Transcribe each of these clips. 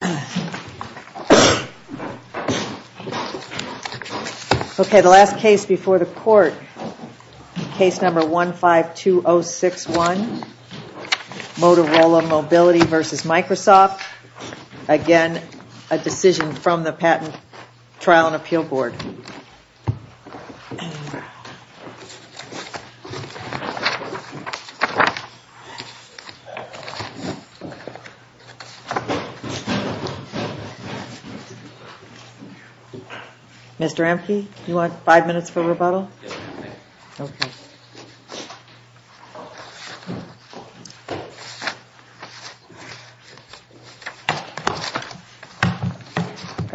The last case before the court, case number 152061, Motorola Mobility v. Microsoft. Again, a decision from the Patent Trial and Appeal Board. Mr. Emke, do you want five minutes for rebuttal? Yes, ma'am, thank you. Okay.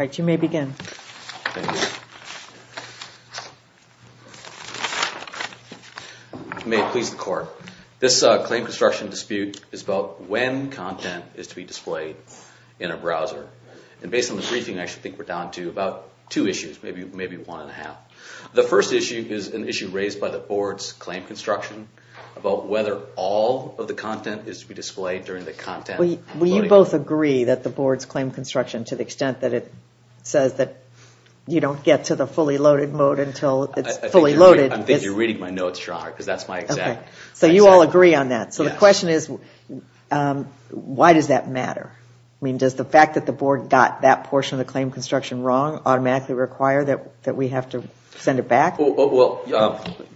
All right, you may begin. Thank you. May it please the court. This claim construction dispute is about when content is to be displayed in a browser. And based on the briefing, I actually think we're down to about two issues, maybe one and a half. The first issue is an issue raised by the board's claim construction about whether all of the content is to be displayed during the content loading. Do you both agree that the board's claim construction, to the extent that it says that you don't get to the fully loaded mode until it's fully loaded. I think you're reading my notes, Your Honor, because that's my exact. So you all agree on that. Yes. So the question is, why does that matter? I mean, does the fact that the board got that portion of the claim construction wrong automatically require that we have to send it back? Well,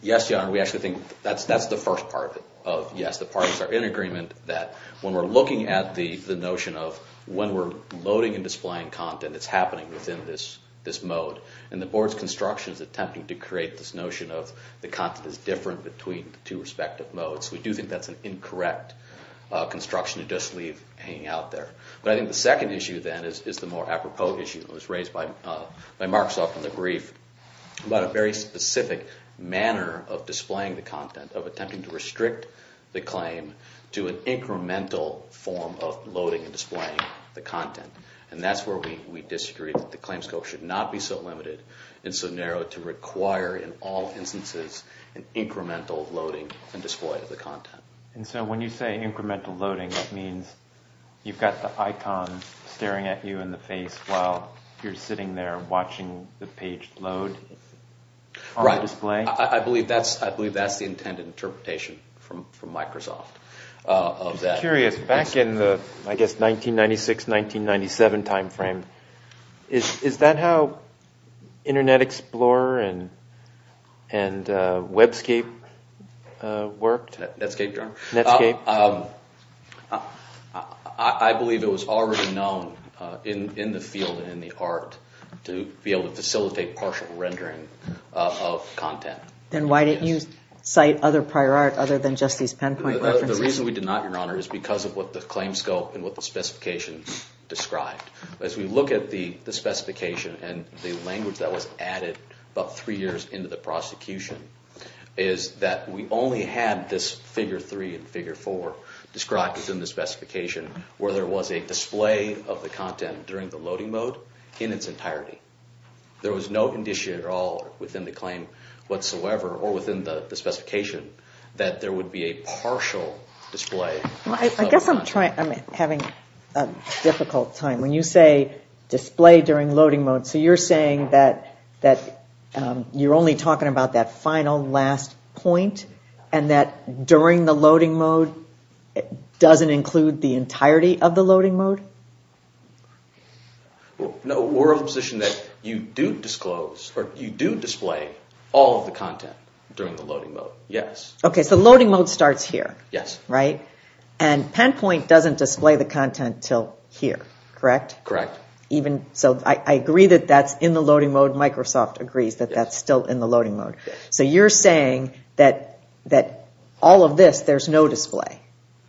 yes, Your Honor, we actually think that's the first part of it. Yes, the parties are in agreement that when we're looking at the notion of when we're loading and displaying content, it's happening within this mode. And the board's construction is attempting to create this notion of the content is different between the two respective modes. We do think that's an incorrect construction to just leave hanging out there. But I think the second issue, then, is the more apropos issue that was raised by Marksoft in the brief about a very specific manner of displaying the content, of attempting to restrict the claim to an incremental form of loading and displaying the content. And that's where we disagree that the claim scope should not be so limited and so narrow to require, in all instances, an incremental loading and display of the content. And so when you say incremental loading, that means you've got the icon staring at you in the face while you're sitting there watching the page load? On the display? I believe that's the intended interpretation from Microsoft of that. I'm curious, back in the, I guess, 1996, 1997 timeframe, is that how Internet Explorer and WebScape worked? Netscape, Your Honor. Netscape. I believe it was already known in the field and in the art to be able to facilitate partial rendering of content. Then why didn't you cite other prior art other than just these pinpoint references? The reason we did not, Your Honor, is because of what the claim scope and what the specification described. As we look at the specification and the language that was added about three years into the prosecution, is that we only had this figure three and figure four described within the specification, where there was a display of the content during the loading mode in its entirety. There was no condition at all within the claim whatsoever, or within the specification, that there would be a partial display. I guess I'm having a difficult time. When you say display during loading mode, so you're saying that you're only talking about that final last point, and that during the loading mode doesn't include the entirety of the loading mode? No, we're of the position that you do disclose, or you do display all of the content during the loading mode, yes. Okay, so loading mode starts here. Yes. And pinpoint doesn't display the content until here, correct? Correct. I agree that that's in the loading mode. Microsoft agrees that that's still in the loading mode. So you're saying that all of this, there's no display.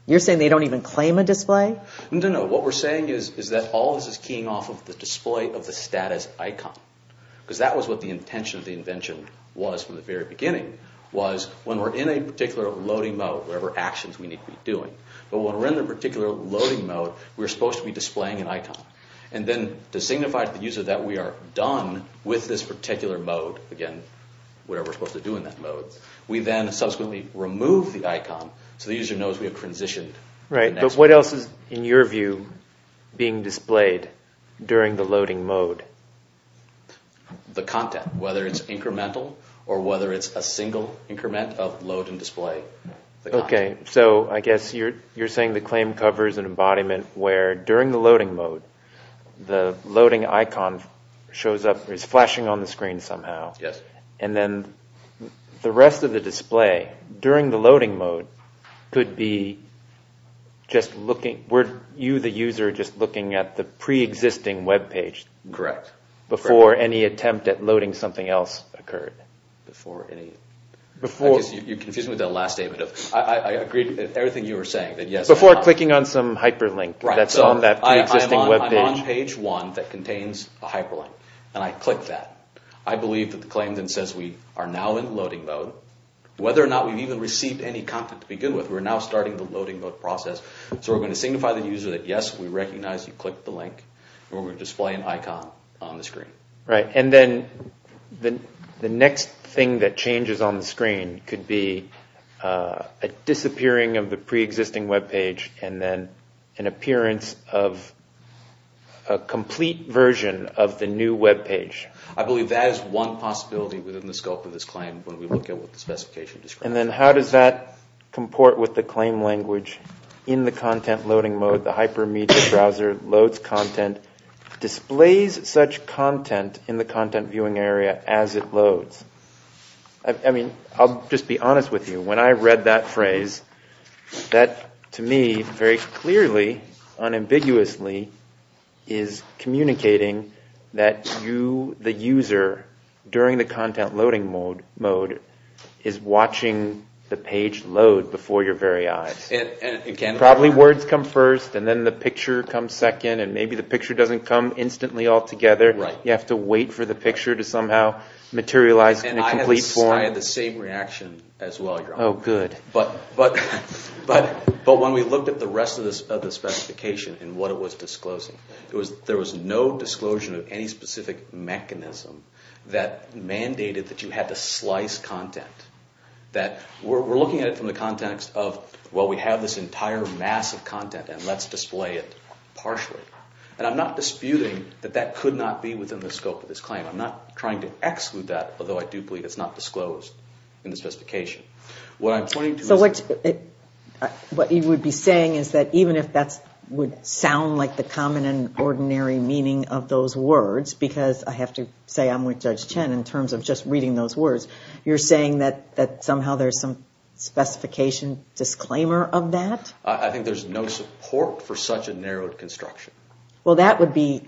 You're saying they don't even claim a display? No, what we're saying is that all of this is keying off of the display of the status icon, because that was what the intention of the invention was from the very beginning, was when we're in a particular loading mode, whatever actions we need to be doing, but when we're in a particular loading mode, we're supposed to be displaying an icon. And then to signify to the user that we are done with this particular mode, again, whatever we're supposed to do in that mode, we then subsequently remove the icon, so the user knows we have transitioned. Right, but what else is, in your view, being displayed during the loading mode? The content, whether it's incremental or whether it's a single increment of load and display. Okay, so I guess you're saying the claim covers an embodiment where during the loading mode, the loading icon shows up, is flashing on the screen somehow. Yes. And then the rest of the display during the loading mode could be just looking, were you the user just looking at the pre-existing web page? Correct. Before any attempt at loading something else occurred. Before any, I guess you're confusing me with that last statement. I agree with everything you were saying. Before clicking on some hyperlink that's on that pre-existing web page. Right, so I'm on page one that contains a hyperlink, and I click that. I believe that the claim then says we are now in loading mode. Whether or not we've even received any content to begin with, we're now starting the loading mode process. So we're going to signify to the user that yes, we recognize you clicked the link, and we're going to display an icon on the screen. Right, and then the next thing that changes on the screen could be a disappearing of the pre-existing web page, and then an appearance of a complete version of the new web page. I believe that is one possibility within the scope of this claim when we look at what the specification describes. And then how does that comport with the claim language in the content loading mode? The hypermedia browser loads content, displays such content in the content viewing area as it loads. I mean, I'll just be honest with you. When I read that phrase, that to me very clearly, unambiguously, is communicating that you, the user, during the content loading mode, is watching the page load before your very eyes. Probably words come first, and then the picture comes second, and maybe the picture doesn't come instantly all together. You have to wait for the picture to somehow materialize in a complete form. And I had the same reaction as well. Oh, good. But when we looked at the rest of the specification and what it was disclosing, there was no disclosure of any specific mechanism that mandated that you had to slice content. We're looking at it from the context of, well, we have this entire mass of content, and let's display it partially. And I'm not disputing that that could not be within the scope of this claim. I'm not trying to exclude that, although I do believe it's not disclosed in the specification. What I'm pointing to is... So what you would be saying is that even if that would sound like the common and ordinary meaning of those words, because I have to say I'm with Judge Chen in terms of just reading those words, you're saying that somehow there's some specification disclaimer of that? I think there's no support for such a narrowed construction. Well, that would be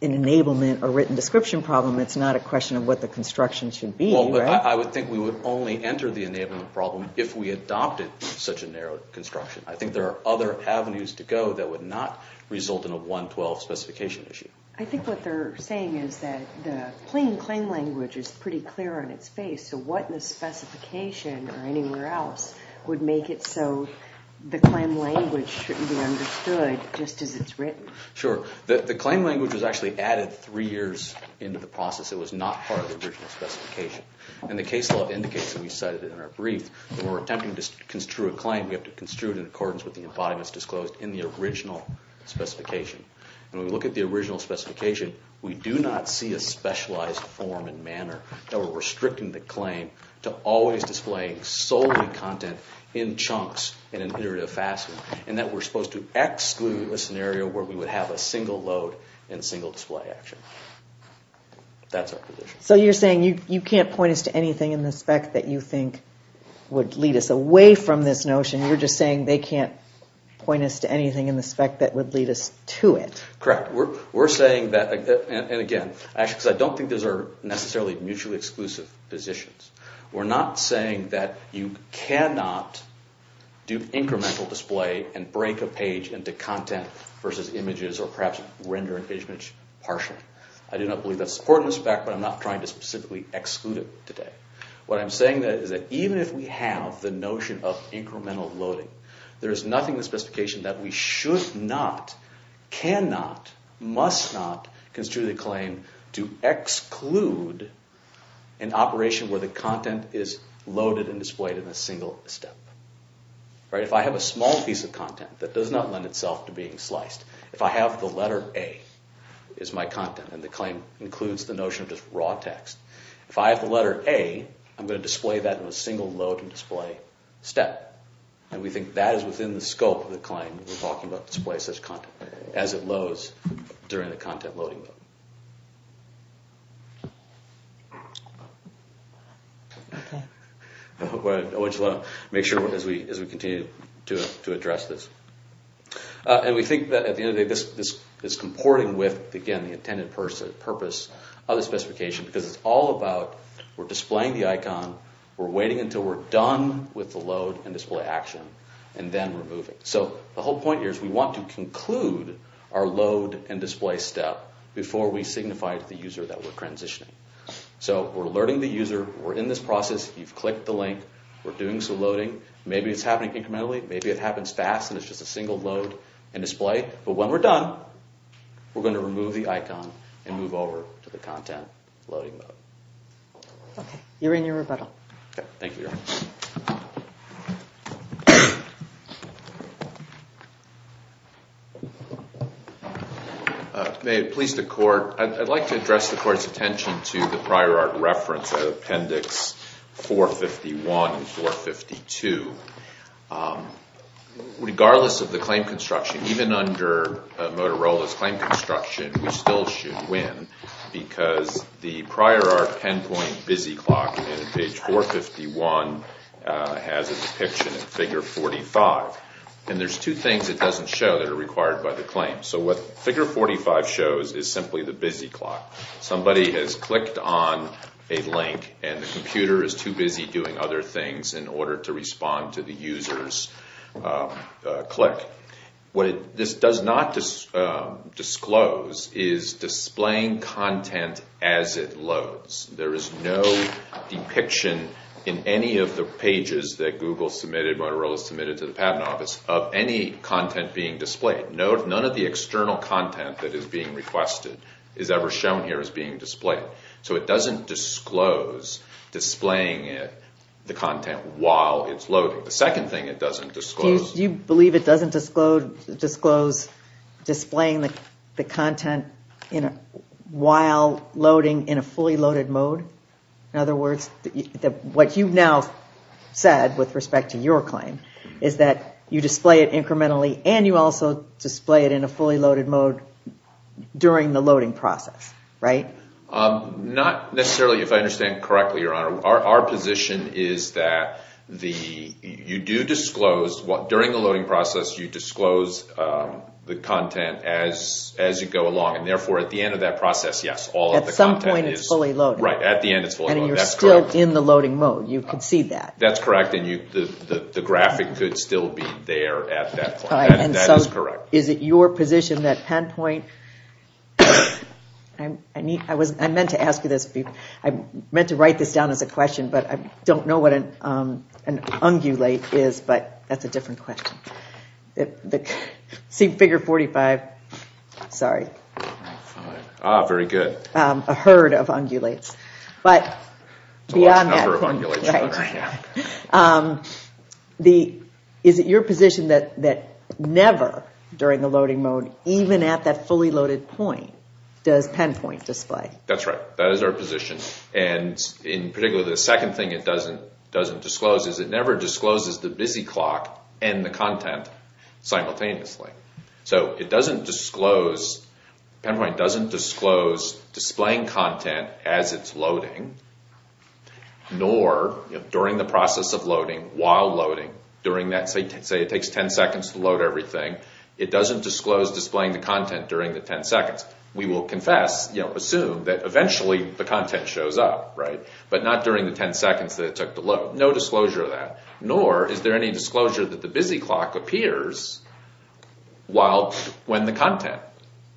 an enablement or written description problem. It's not a question of what the construction should be, right? Well, I would think we would only enter the enablement problem if we adopted such a narrow construction. I think there are other avenues to go that would not result in a 112 specification issue. I think what they're saying is that the plain claim language is pretty clear on its face, so what in the specification or anywhere else would make it so the claim language shouldn't be understood just as it's written? Sure. The claim language was actually added three years into the process. It was not part of the original specification. And the case law indicates, and we cited it in our brief, that when we're attempting to construe a claim, we have to construe it in accordance with the embodiments disclosed in the original specification. And when we look at the original specification, we do not see a specialized form and manner that we're restricting the claim to always displaying solely content in chunks in an iterative fashion, and that we're supposed to exclude a scenario where we would have a single load and single display action. That's our position. So you're saying you can't point us to anything in the spec that you think would lead us away from this notion. You're just saying they can't point us to anything in the spec that would lead us to it. Correct. We're saying that, and again, because I don't think those are necessarily mutually exclusive positions, we're not saying that you cannot do incremental display and break a page into content versus images or perhaps render a page partially. I do not believe that's important in the spec, but I'm not trying to specifically exclude it today. What I'm saying is that even if we have the notion of incremental loading, there is nothing in the specification that we should not, cannot, must not construe the claim to exclude an operation where the content is loaded and displayed in a single step. If I have a small piece of content that does not lend itself to being sliced, if I have the letter A as my content and the claim includes the notion of just raw text, if I have the letter A, I'm going to display that in a single load and display step. We think that is within the scope of the claim when we're talking about display such content as it loads during the content loading. I want you to make sure as we continue to address this. We think that at the end of the day, this is comporting with, again, the intended purpose of the specification because it's all about we're displaying the icon. We're waiting until we're done with the load and display action and then removing. The whole point here is we want to conclude our load and display step before we signify to the user that we're transitioning. We're alerting the user. We're in this process. You've clicked the link. We're doing some loading. Maybe it's happening incrementally. Maybe it happens fast and it's just a single load and display. But when we're done, we're going to remove the icon and move over to the content loading mode. Okay. You're in your rebuttal. Okay. Thank you. May it please the Court, I'd like to address the Court's attention to the prior art reference, Appendix 451 and 452. Regardless of the claim construction, even under Motorola's claim construction, we still should win because the prior art pinpoint busy clock in page 451 has a depiction of figure 45. And there's two things it doesn't show that are required by the claim. So what figure 45 shows is simply the busy clock. Somebody has clicked on a link and the computer is too busy doing other things in order to respond to the user's click. What this does not disclose is displaying content as it loads. There is no depiction in any of the pages that Google submitted, Motorola submitted to the Patent Office, of any content being displayed. None of the external content that is being requested is ever shown here as being displayed. So it doesn't disclose displaying the content while it's loading. The second thing it doesn't disclose... Do you believe it doesn't disclose displaying the content while loading in a fully loaded mode? In other words, what you've now said with respect to your claim is that you display it incrementally and you also display it in a fully loaded mode during the loading process, right? Not necessarily, if I understand correctly, Your Honor. Our position is that you do disclose, during the loading process, you disclose the content as you go along. And therefore, at the end of that process, yes, all of the content is... At some point it's fully loaded. Right, at the end it's fully loaded. That's correct. And you're still in the loading mode. You can see that. That's correct, and the graphic could still be there at that point. That is correct. Is it your position that PennPoint... I meant to write this down as a question, but I don't know what an ungulate is, but that's a different question. See figure 45. Sorry. Ah, very good. A herd of ungulates, but beyond that... A large number of ungulates. Is it your position that never, during the loading mode, even at that fully loaded point, does PennPoint display? That's right. That is our position. And in particular, the second thing it doesn't disclose is it never discloses the busy clock and the content simultaneously. So it doesn't disclose... PennPoint doesn't disclose displaying content as it's loading, nor during the process of loading, while loading, during that, say it takes 10 seconds to load everything, it doesn't disclose displaying the content during the 10 seconds. We will confess, assume that eventually the content shows up, but not during the 10 seconds that it took to load. No disclosure of that. Nor is there any disclosure that the busy clock appears when the content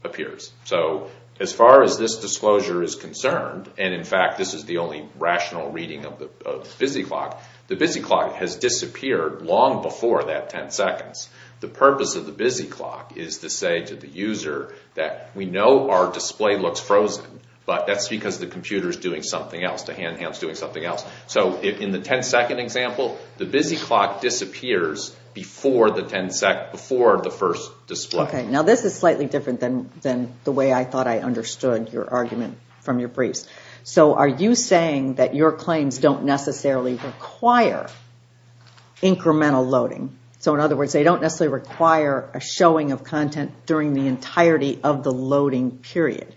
appears. So as far as this disclosure is concerned, and in fact this is the only rational reading of the busy clock, the busy clock has disappeared long before that 10 seconds. The purpose of the busy clock is to say to the user that we know our display looks frozen, but that's because the computer is doing something else. The hand-hand is doing something else. So in the 10 second example, the busy clock disappears before the first display. Now this is slightly different than the way I thought I understood your argument from your briefs. So are you saying that your claims don't necessarily require incremental loading? So in other words, they don't necessarily require a showing of content during the entirety of the loading period?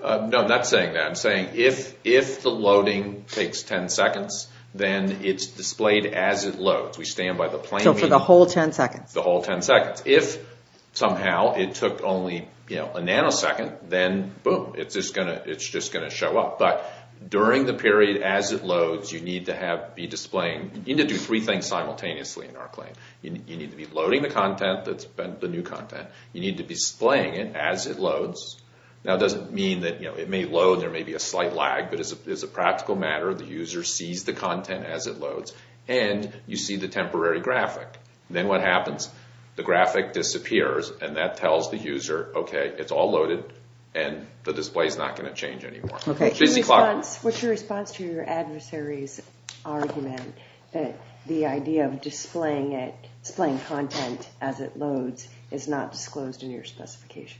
No, I'm not saying that. I'm saying if the loading takes 10 seconds, then it's displayed as it loads. We stand by the plain meaning. So for the whole 10 seconds? The whole 10 seconds. If somehow it took only a nanosecond, then boom. It's just going to show up. But during the period as it loads, you need to do three things simultaneously in our claim. You need to be loading the content, the new content. You need to be displaying it as it loads. Now it doesn't mean that it may load, there may be a slight lag, but as a practical matter, the user sees the content as it loads, and you see the temporary graphic. Then what happens? The graphic disappears, and that tells the user, okay, it's all loaded, and the display is not going to change anymore. What's your response to your adversary's argument that the idea of displaying content as it loads is not disclosed in your specification?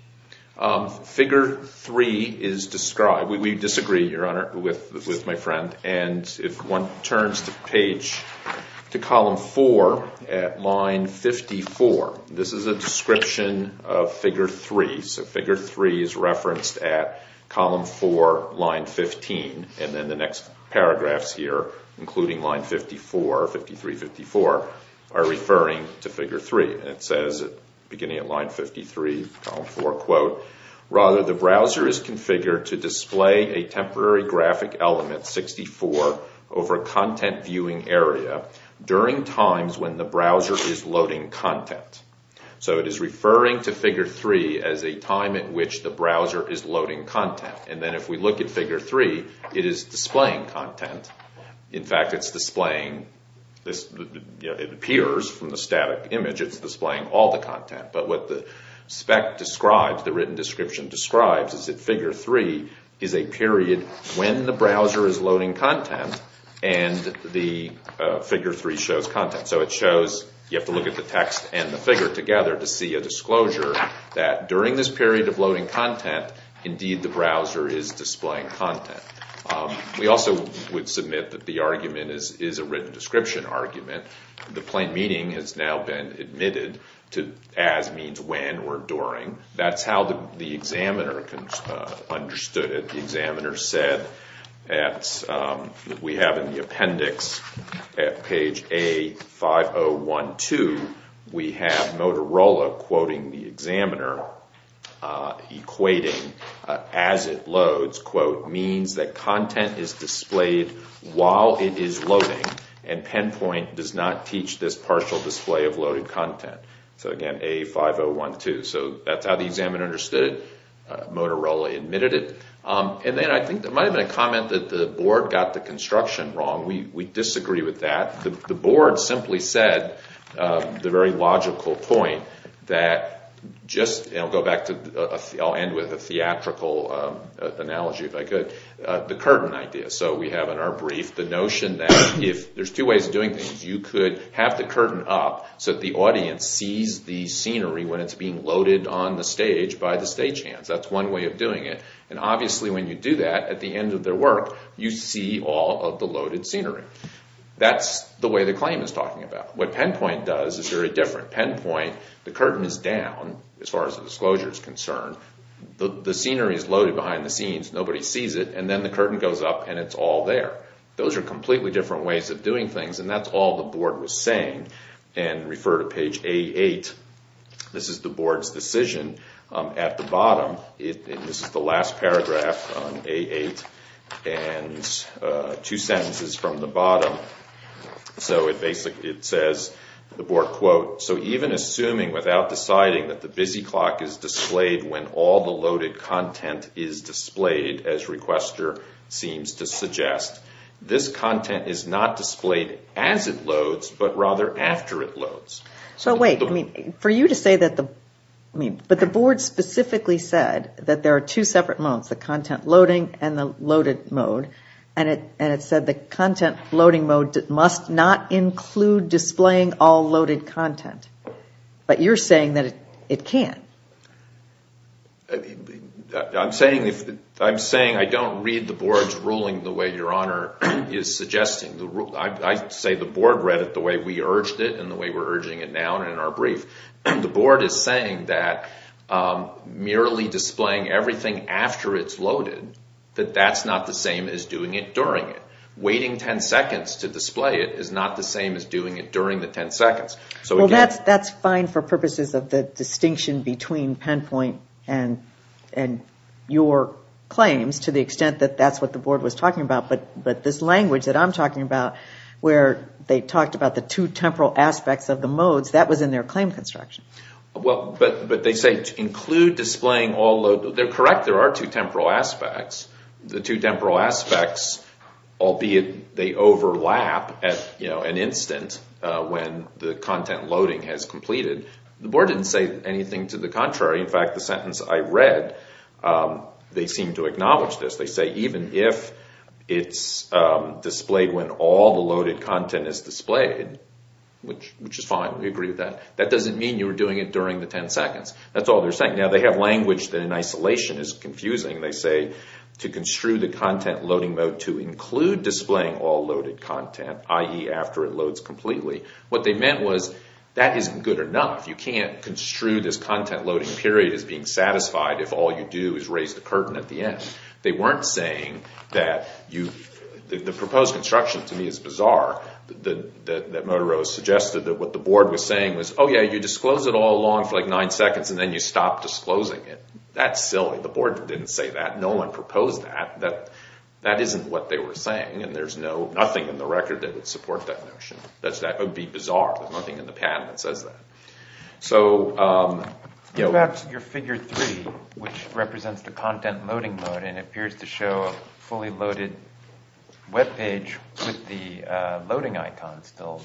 Figure 3 is described. We disagree, Your Honor, with my friend. If one turns to column 4 at line 54, this is a description of figure 3. Figure 3 is referenced at column 4, line 15, and then the next paragraphs here, including line 54, 53, 54, are referring to figure 3. It says, beginning at line 53, column 4, rather, the browser is configured to display a temporary graphic element, 64, over a content viewing area during times when the browser is loading content. So it is referring to figure 3 as a time at which the browser is loading content. And then if we look at figure 3, it is displaying content. In fact, it's displaying, it appears from the static image, it's displaying all the content. But what the spec describes, the written description describes, is that figure 3 is a period when the browser is loading content and the figure 3 shows content. So it shows, you have to look at the text and the figure together to see a disclosure that during this period of loading content, indeed the browser is displaying content. We also would submit that the argument is a written description argument. The plain meaning has now been admitted to as means when or during. That's how the examiner understood it. The examiner said that we have in the appendix at page A5012, we have Motorola quoting the examiner, equating as it loads, quote, means that content is displayed while it is loading and PenPoint does not teach this partial display of loaded content. So again, A5012. So that's how the examiner understood it. Motorola admitted it. And then I think there might have been a comment that the board got the construction wrong. We disagree with that. The board simply said the very logical point that just, and I'll go back to, I'll end with a theatrical analogy if I could, the curtain idea. So we have in our brief the notion that if, there's two ways of doing things. You could have the curtain up so that the audience sees the scenery when it's being loaded on the stage by the stagehands. That's one way of doing it. And obviously when you do that, at the end of their work, you see all of the loaded scenery. That's the way the claim is talking about. What PenPoint does is very different. At PenPoint, the curtain is down as far as the disclosure is concerned. The scenery is loaded behind the scenes. Nobody sees it. And then the curtain goes up and it's all there. Those are completely different ways of doing things, and that's all the board was saying. And refer to page A8. This is the board's decision. At the bottom, this is the last paragraph on A8, and two sentences from the bottom. So it basically says, the board, quote, so even assuming without deciding that the busy clock is displayed when all the loaded content is displayed, as requester seems to suggest, this content is not displayed as it loads, but rather after it loads. So wait, for you to say that the board specifically said that there are two separate modes, the content loading and the loaded mode, and it said the content loading mode must not include displaying all loaded content. But you're saying that it can't. I'm saying I don't read the board's ruling the way Your Honor is suggesting. I say the board read it the way we urged it and the way we're urging it now and in our brief. The board is saying that merely displaying everything after it's loaded, that that's not the same as doing it during it. Waiting 10 seconds to display it is not the same as doing it during the 10 seconds. So again... Well, that's fine for purposes of the distinction between PenPoint and your claims to the extent that that's what the board was talking about. But this language that I'm talking about, where they talked about the two temporal aspects of the modes, that was in their claim construction. Well, but they say include displaying all loaded. They're correct. There are two temporal aspects. The two temporal aspects, albeit they overlap at an instant when the content loading has completed. The board didn't say anything to the contrary. In fact, the sentence I read, they seem to acknowledge this. They say even if it's displayed when all the loaded content is displayed, which is fine. We agree with that. That doesn't mean you were doing it during the 10 seconds. That's all they're saying. Now they have language that in isolation is confusing. They say to construe the content loading mode to include displaying all loaded content, i.e. after it loads completely. What they meant was that isn't good enough. You can't construe this content loading period as being satisfied if all you do is raise the curtain at the end. They weren't saying that you... The proposed construction to me is bizarre that Motorola suggested that what the board was saying was, oh yeah, you disclose it all along for like 9 seconds and then you stop disclosing it. That's silly. The board didn't say that. No one proposed that. That isn't what they were saying, and there's nothing in the record that would support that notion. That would be bizarre. There's nothing in the patent that says that. What about your figure 3, which represents the content loading mode and appears to show a fully loaded web page with the loading icon still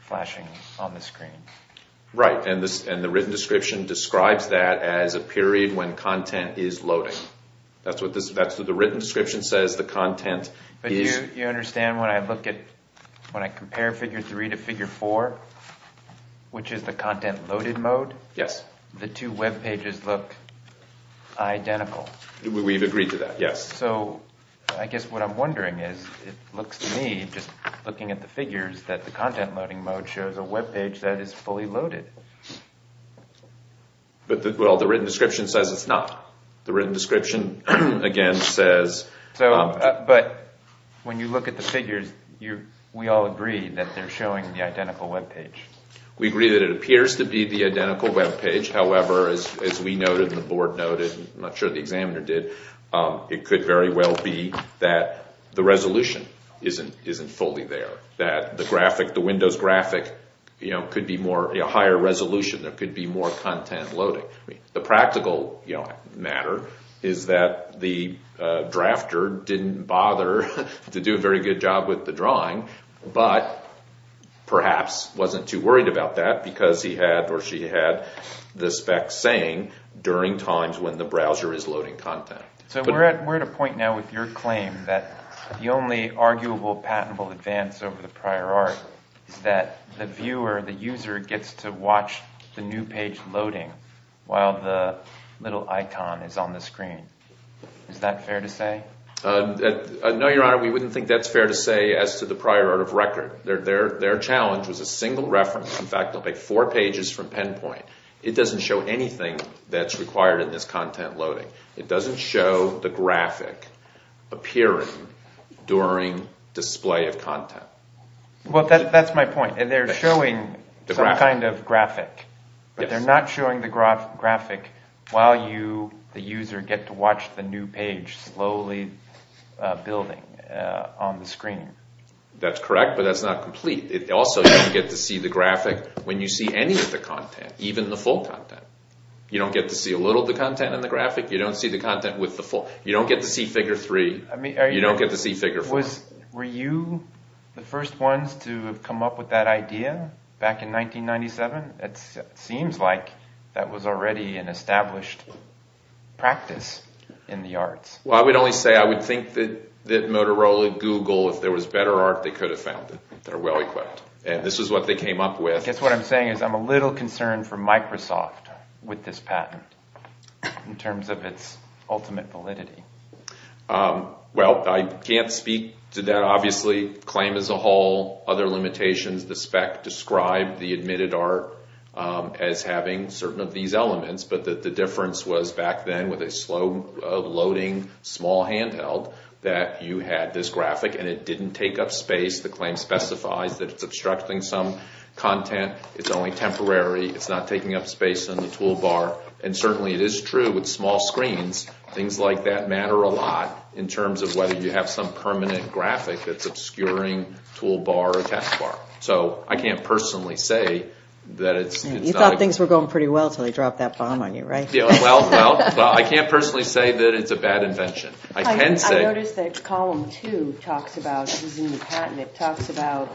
flashing on the screen? Right, and the written description describes that as a period when content is loading. That's what the written description says the content is... But you understand when I compare figure 3 to figure 4, which is the content loaded mode? Yes. The two web pages look identical. We've agreed to that, yes. So I guess what I'm wondering is, it looks to me, just looking at the figures, that the content loading mode shows a web page that is fully loaded. Well, the written description says it's not. The written description, again, says... But when you look at the figures, we all agree that they're showing the identical web page. We agree that it appears to be the identical web page. However, as we noted and the board noted, and I'm not sure the examiner did, it could very well be that the resolution isn't fully there. That the Windows graphic could be a higher resolution. There could be more content loading. The practical matter is that the drafter didn't bother to do a very good job with the drawing, but perhaps wasn't too worried about that because he had or she had the specs saying during times when the browser is loading content. So we're at a point now with your claim that the only arguable patentable advance over the prior art is that the viewer, the user, gets to watch the new page loading while the little icon is on the screen. Is that fair to say? No, Your Honor, we wouldn't think that's fair to say as to the prior art of record. Their challenge was a single reference. In fact, they'll take four pages from PenPoint. It doesn't show anything that's required in this content loading. It doesn't show the graphic appearing during display of content. Well, that's my point. They're showing some kind of graphic, but they're not showing the graphic while you, the user, get to watch the new page slowly building on the screen. That's correct, but that's not complete. Also, you don't get to see the graphic when you see any of the content, even the full content. You don't get to see a little of the content in the graphic. You don't see the content with the full. You don't get to see figure three. You don't get to see figure four. Were you the first ones to come up with that idea back in 1997? It seems like that was already an established practice in the arts. Well, I would only say I would think that Motorola, Google, if there was better art, they could have found it. They're well-equipped, and this is what they came up with. I guess what I'm saying is I'm a little concerned for Microsoft with this patent in terms of its ultimate validity. Well, I can't speak to that, obviously. The claim as a whole, other limitations, the spec described the admitted art as having certain of these elements, but the difference was back then with a slow-loading small handheld that you had this graphic, and it didn't take up space. The claim specifies that it's obstructing some content. It's only temporary. It's not taking up space on the toolbar, and certainly it is true with small screens. Things like that matter a lot in terms of whether you have some permanent graphic that's obscuring toolbar or taskbar. So I can't personally say that it's not a good thing. You thought things were going pretty well until they dropped that bomb on you, right? Well, I can't personally say that it's a bad invention. I can say. I noticed that Column 2 talks about using the patent. It talks about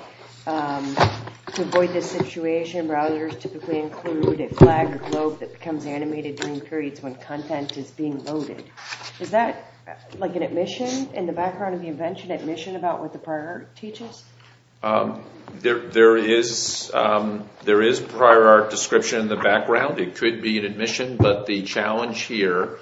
to avoid this situation, browsers typically include a flag or globe that becomes animated during periods when content is being loaded. Is that like an admission in the background of the invention, admission about what the prior art teaches? There is prior art description in the background. It could be an admission, but the challenge here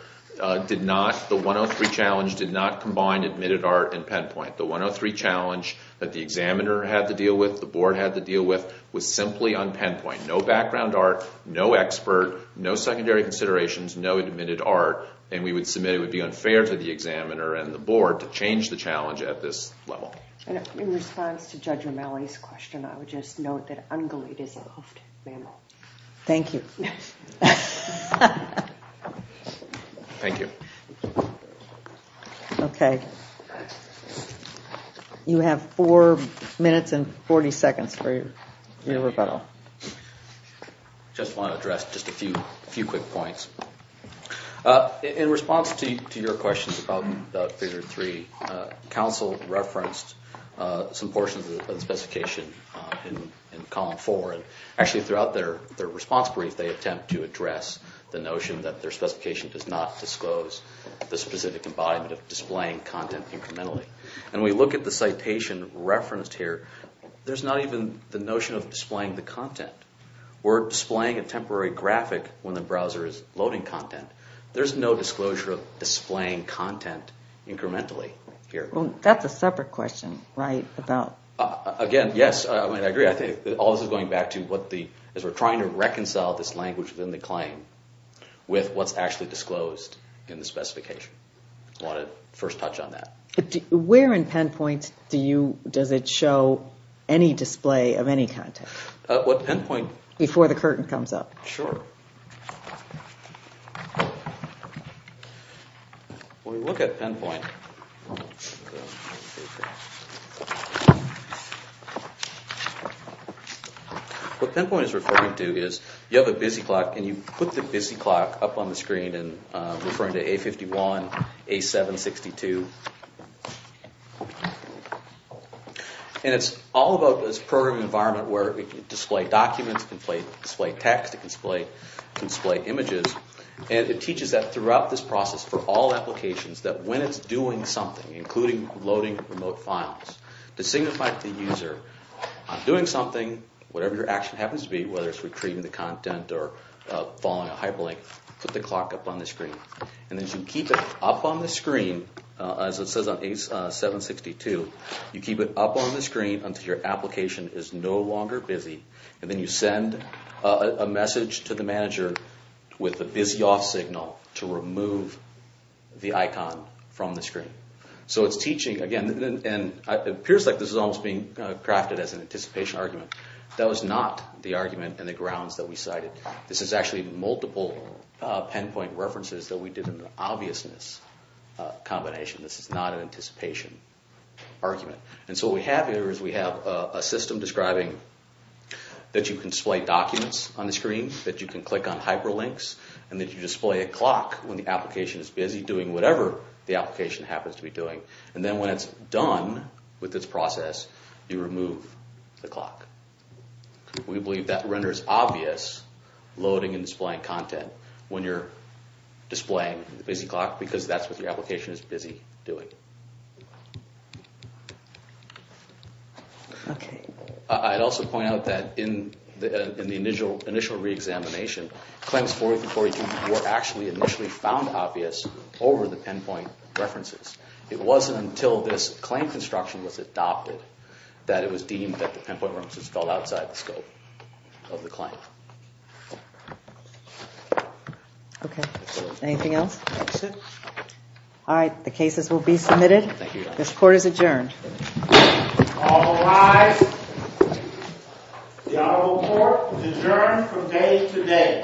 did not, the 103 challenge did not combine admitted art and PenPoint. The 103 challenge that the examiner had to deal with, the board had to deal with, was simply on PenPoint. No background art, no expert, no secondary considerations, no admitted art, and we would submit it would be unfair to the examiner and the board to change the challenge at this level. And in response to Judge Romali's question, I would just note that ungulate is a hoofed mammal. Thank you. Thank you. Okay. You have four minutes and 40 seconds for your rebuttal. I just want to address just a few quick points. In response to your questions about figure three, counsel referenced some portions of the specification in column four. Actually, throughout their response brief, they attempt to address the notion that their specification does not disclose the specific embodiment of displaying content incrementally. When we look at the citation referenced here, there's not even the notion of displaying the content. We're displaying a temporary graphic when the browser is loading content. There's no disclosure of displaying content incrementally here. That's a separate question, right? Again, yes, I agree. I think all this is going back to as we're trying to reconcile this language within the claim with what's actually disclosed in the specification. I want to first touch on that. Where in PenPoint does it show any display of any content? What PenPoint? Before the curtain comes up. Sure. When we look at PenPoint, what PenPoint is referring to is you have a busy clock, and you put the busy clock up on the screen and referring to A51, A762. It's all about this program environment where it can display documents, it can display text, it can display images, and it teaches that throughout this process for all applications, that when it's doing something, including loading remote files, to signify to the user, I'm doing something, whatever your action happens to be, whether it's retrieving the content or following a hyperlink, put the clock up on the screen. And as you keep it up on the screen, as it says on A762, you keep it up on the screen until your application is no longer busy, and then you send a message to the manager with a busy off signal to remove the icon from the screen. So it's teaching, again, and it appears like this is almost being crafted as an anticipation argument. That was not the argument and the grounds that we cited. This is actually multiple pinpoint references that we did in the obviousness combination. This is not an anticipation argument. And so what we have here is we have a system describing that you can display documents on the screen, that you can click on hyperlinks, and that you display a clock when the application is busy doing whatever the application happens to be doing. And then when it's done with this process, you remove the clock. We believe that renders obvious loading and displaying content when you're displaying the busy clock because that's what your application is busy doing. I'd also point out that in the initial re-examination, claims 40 through 42 were actually initially found obvious over the pinpoint references. It wasn't until this claim construction was adopted that it was deemed that the pinpoint references fell outside the scope of the claim. Okay. Anything else? That's it. All right. The cases will be submitted. Thank you, Your Honor. This court is adjourned. All rise. The Honorable Court is adjourned from day to day. Thank you.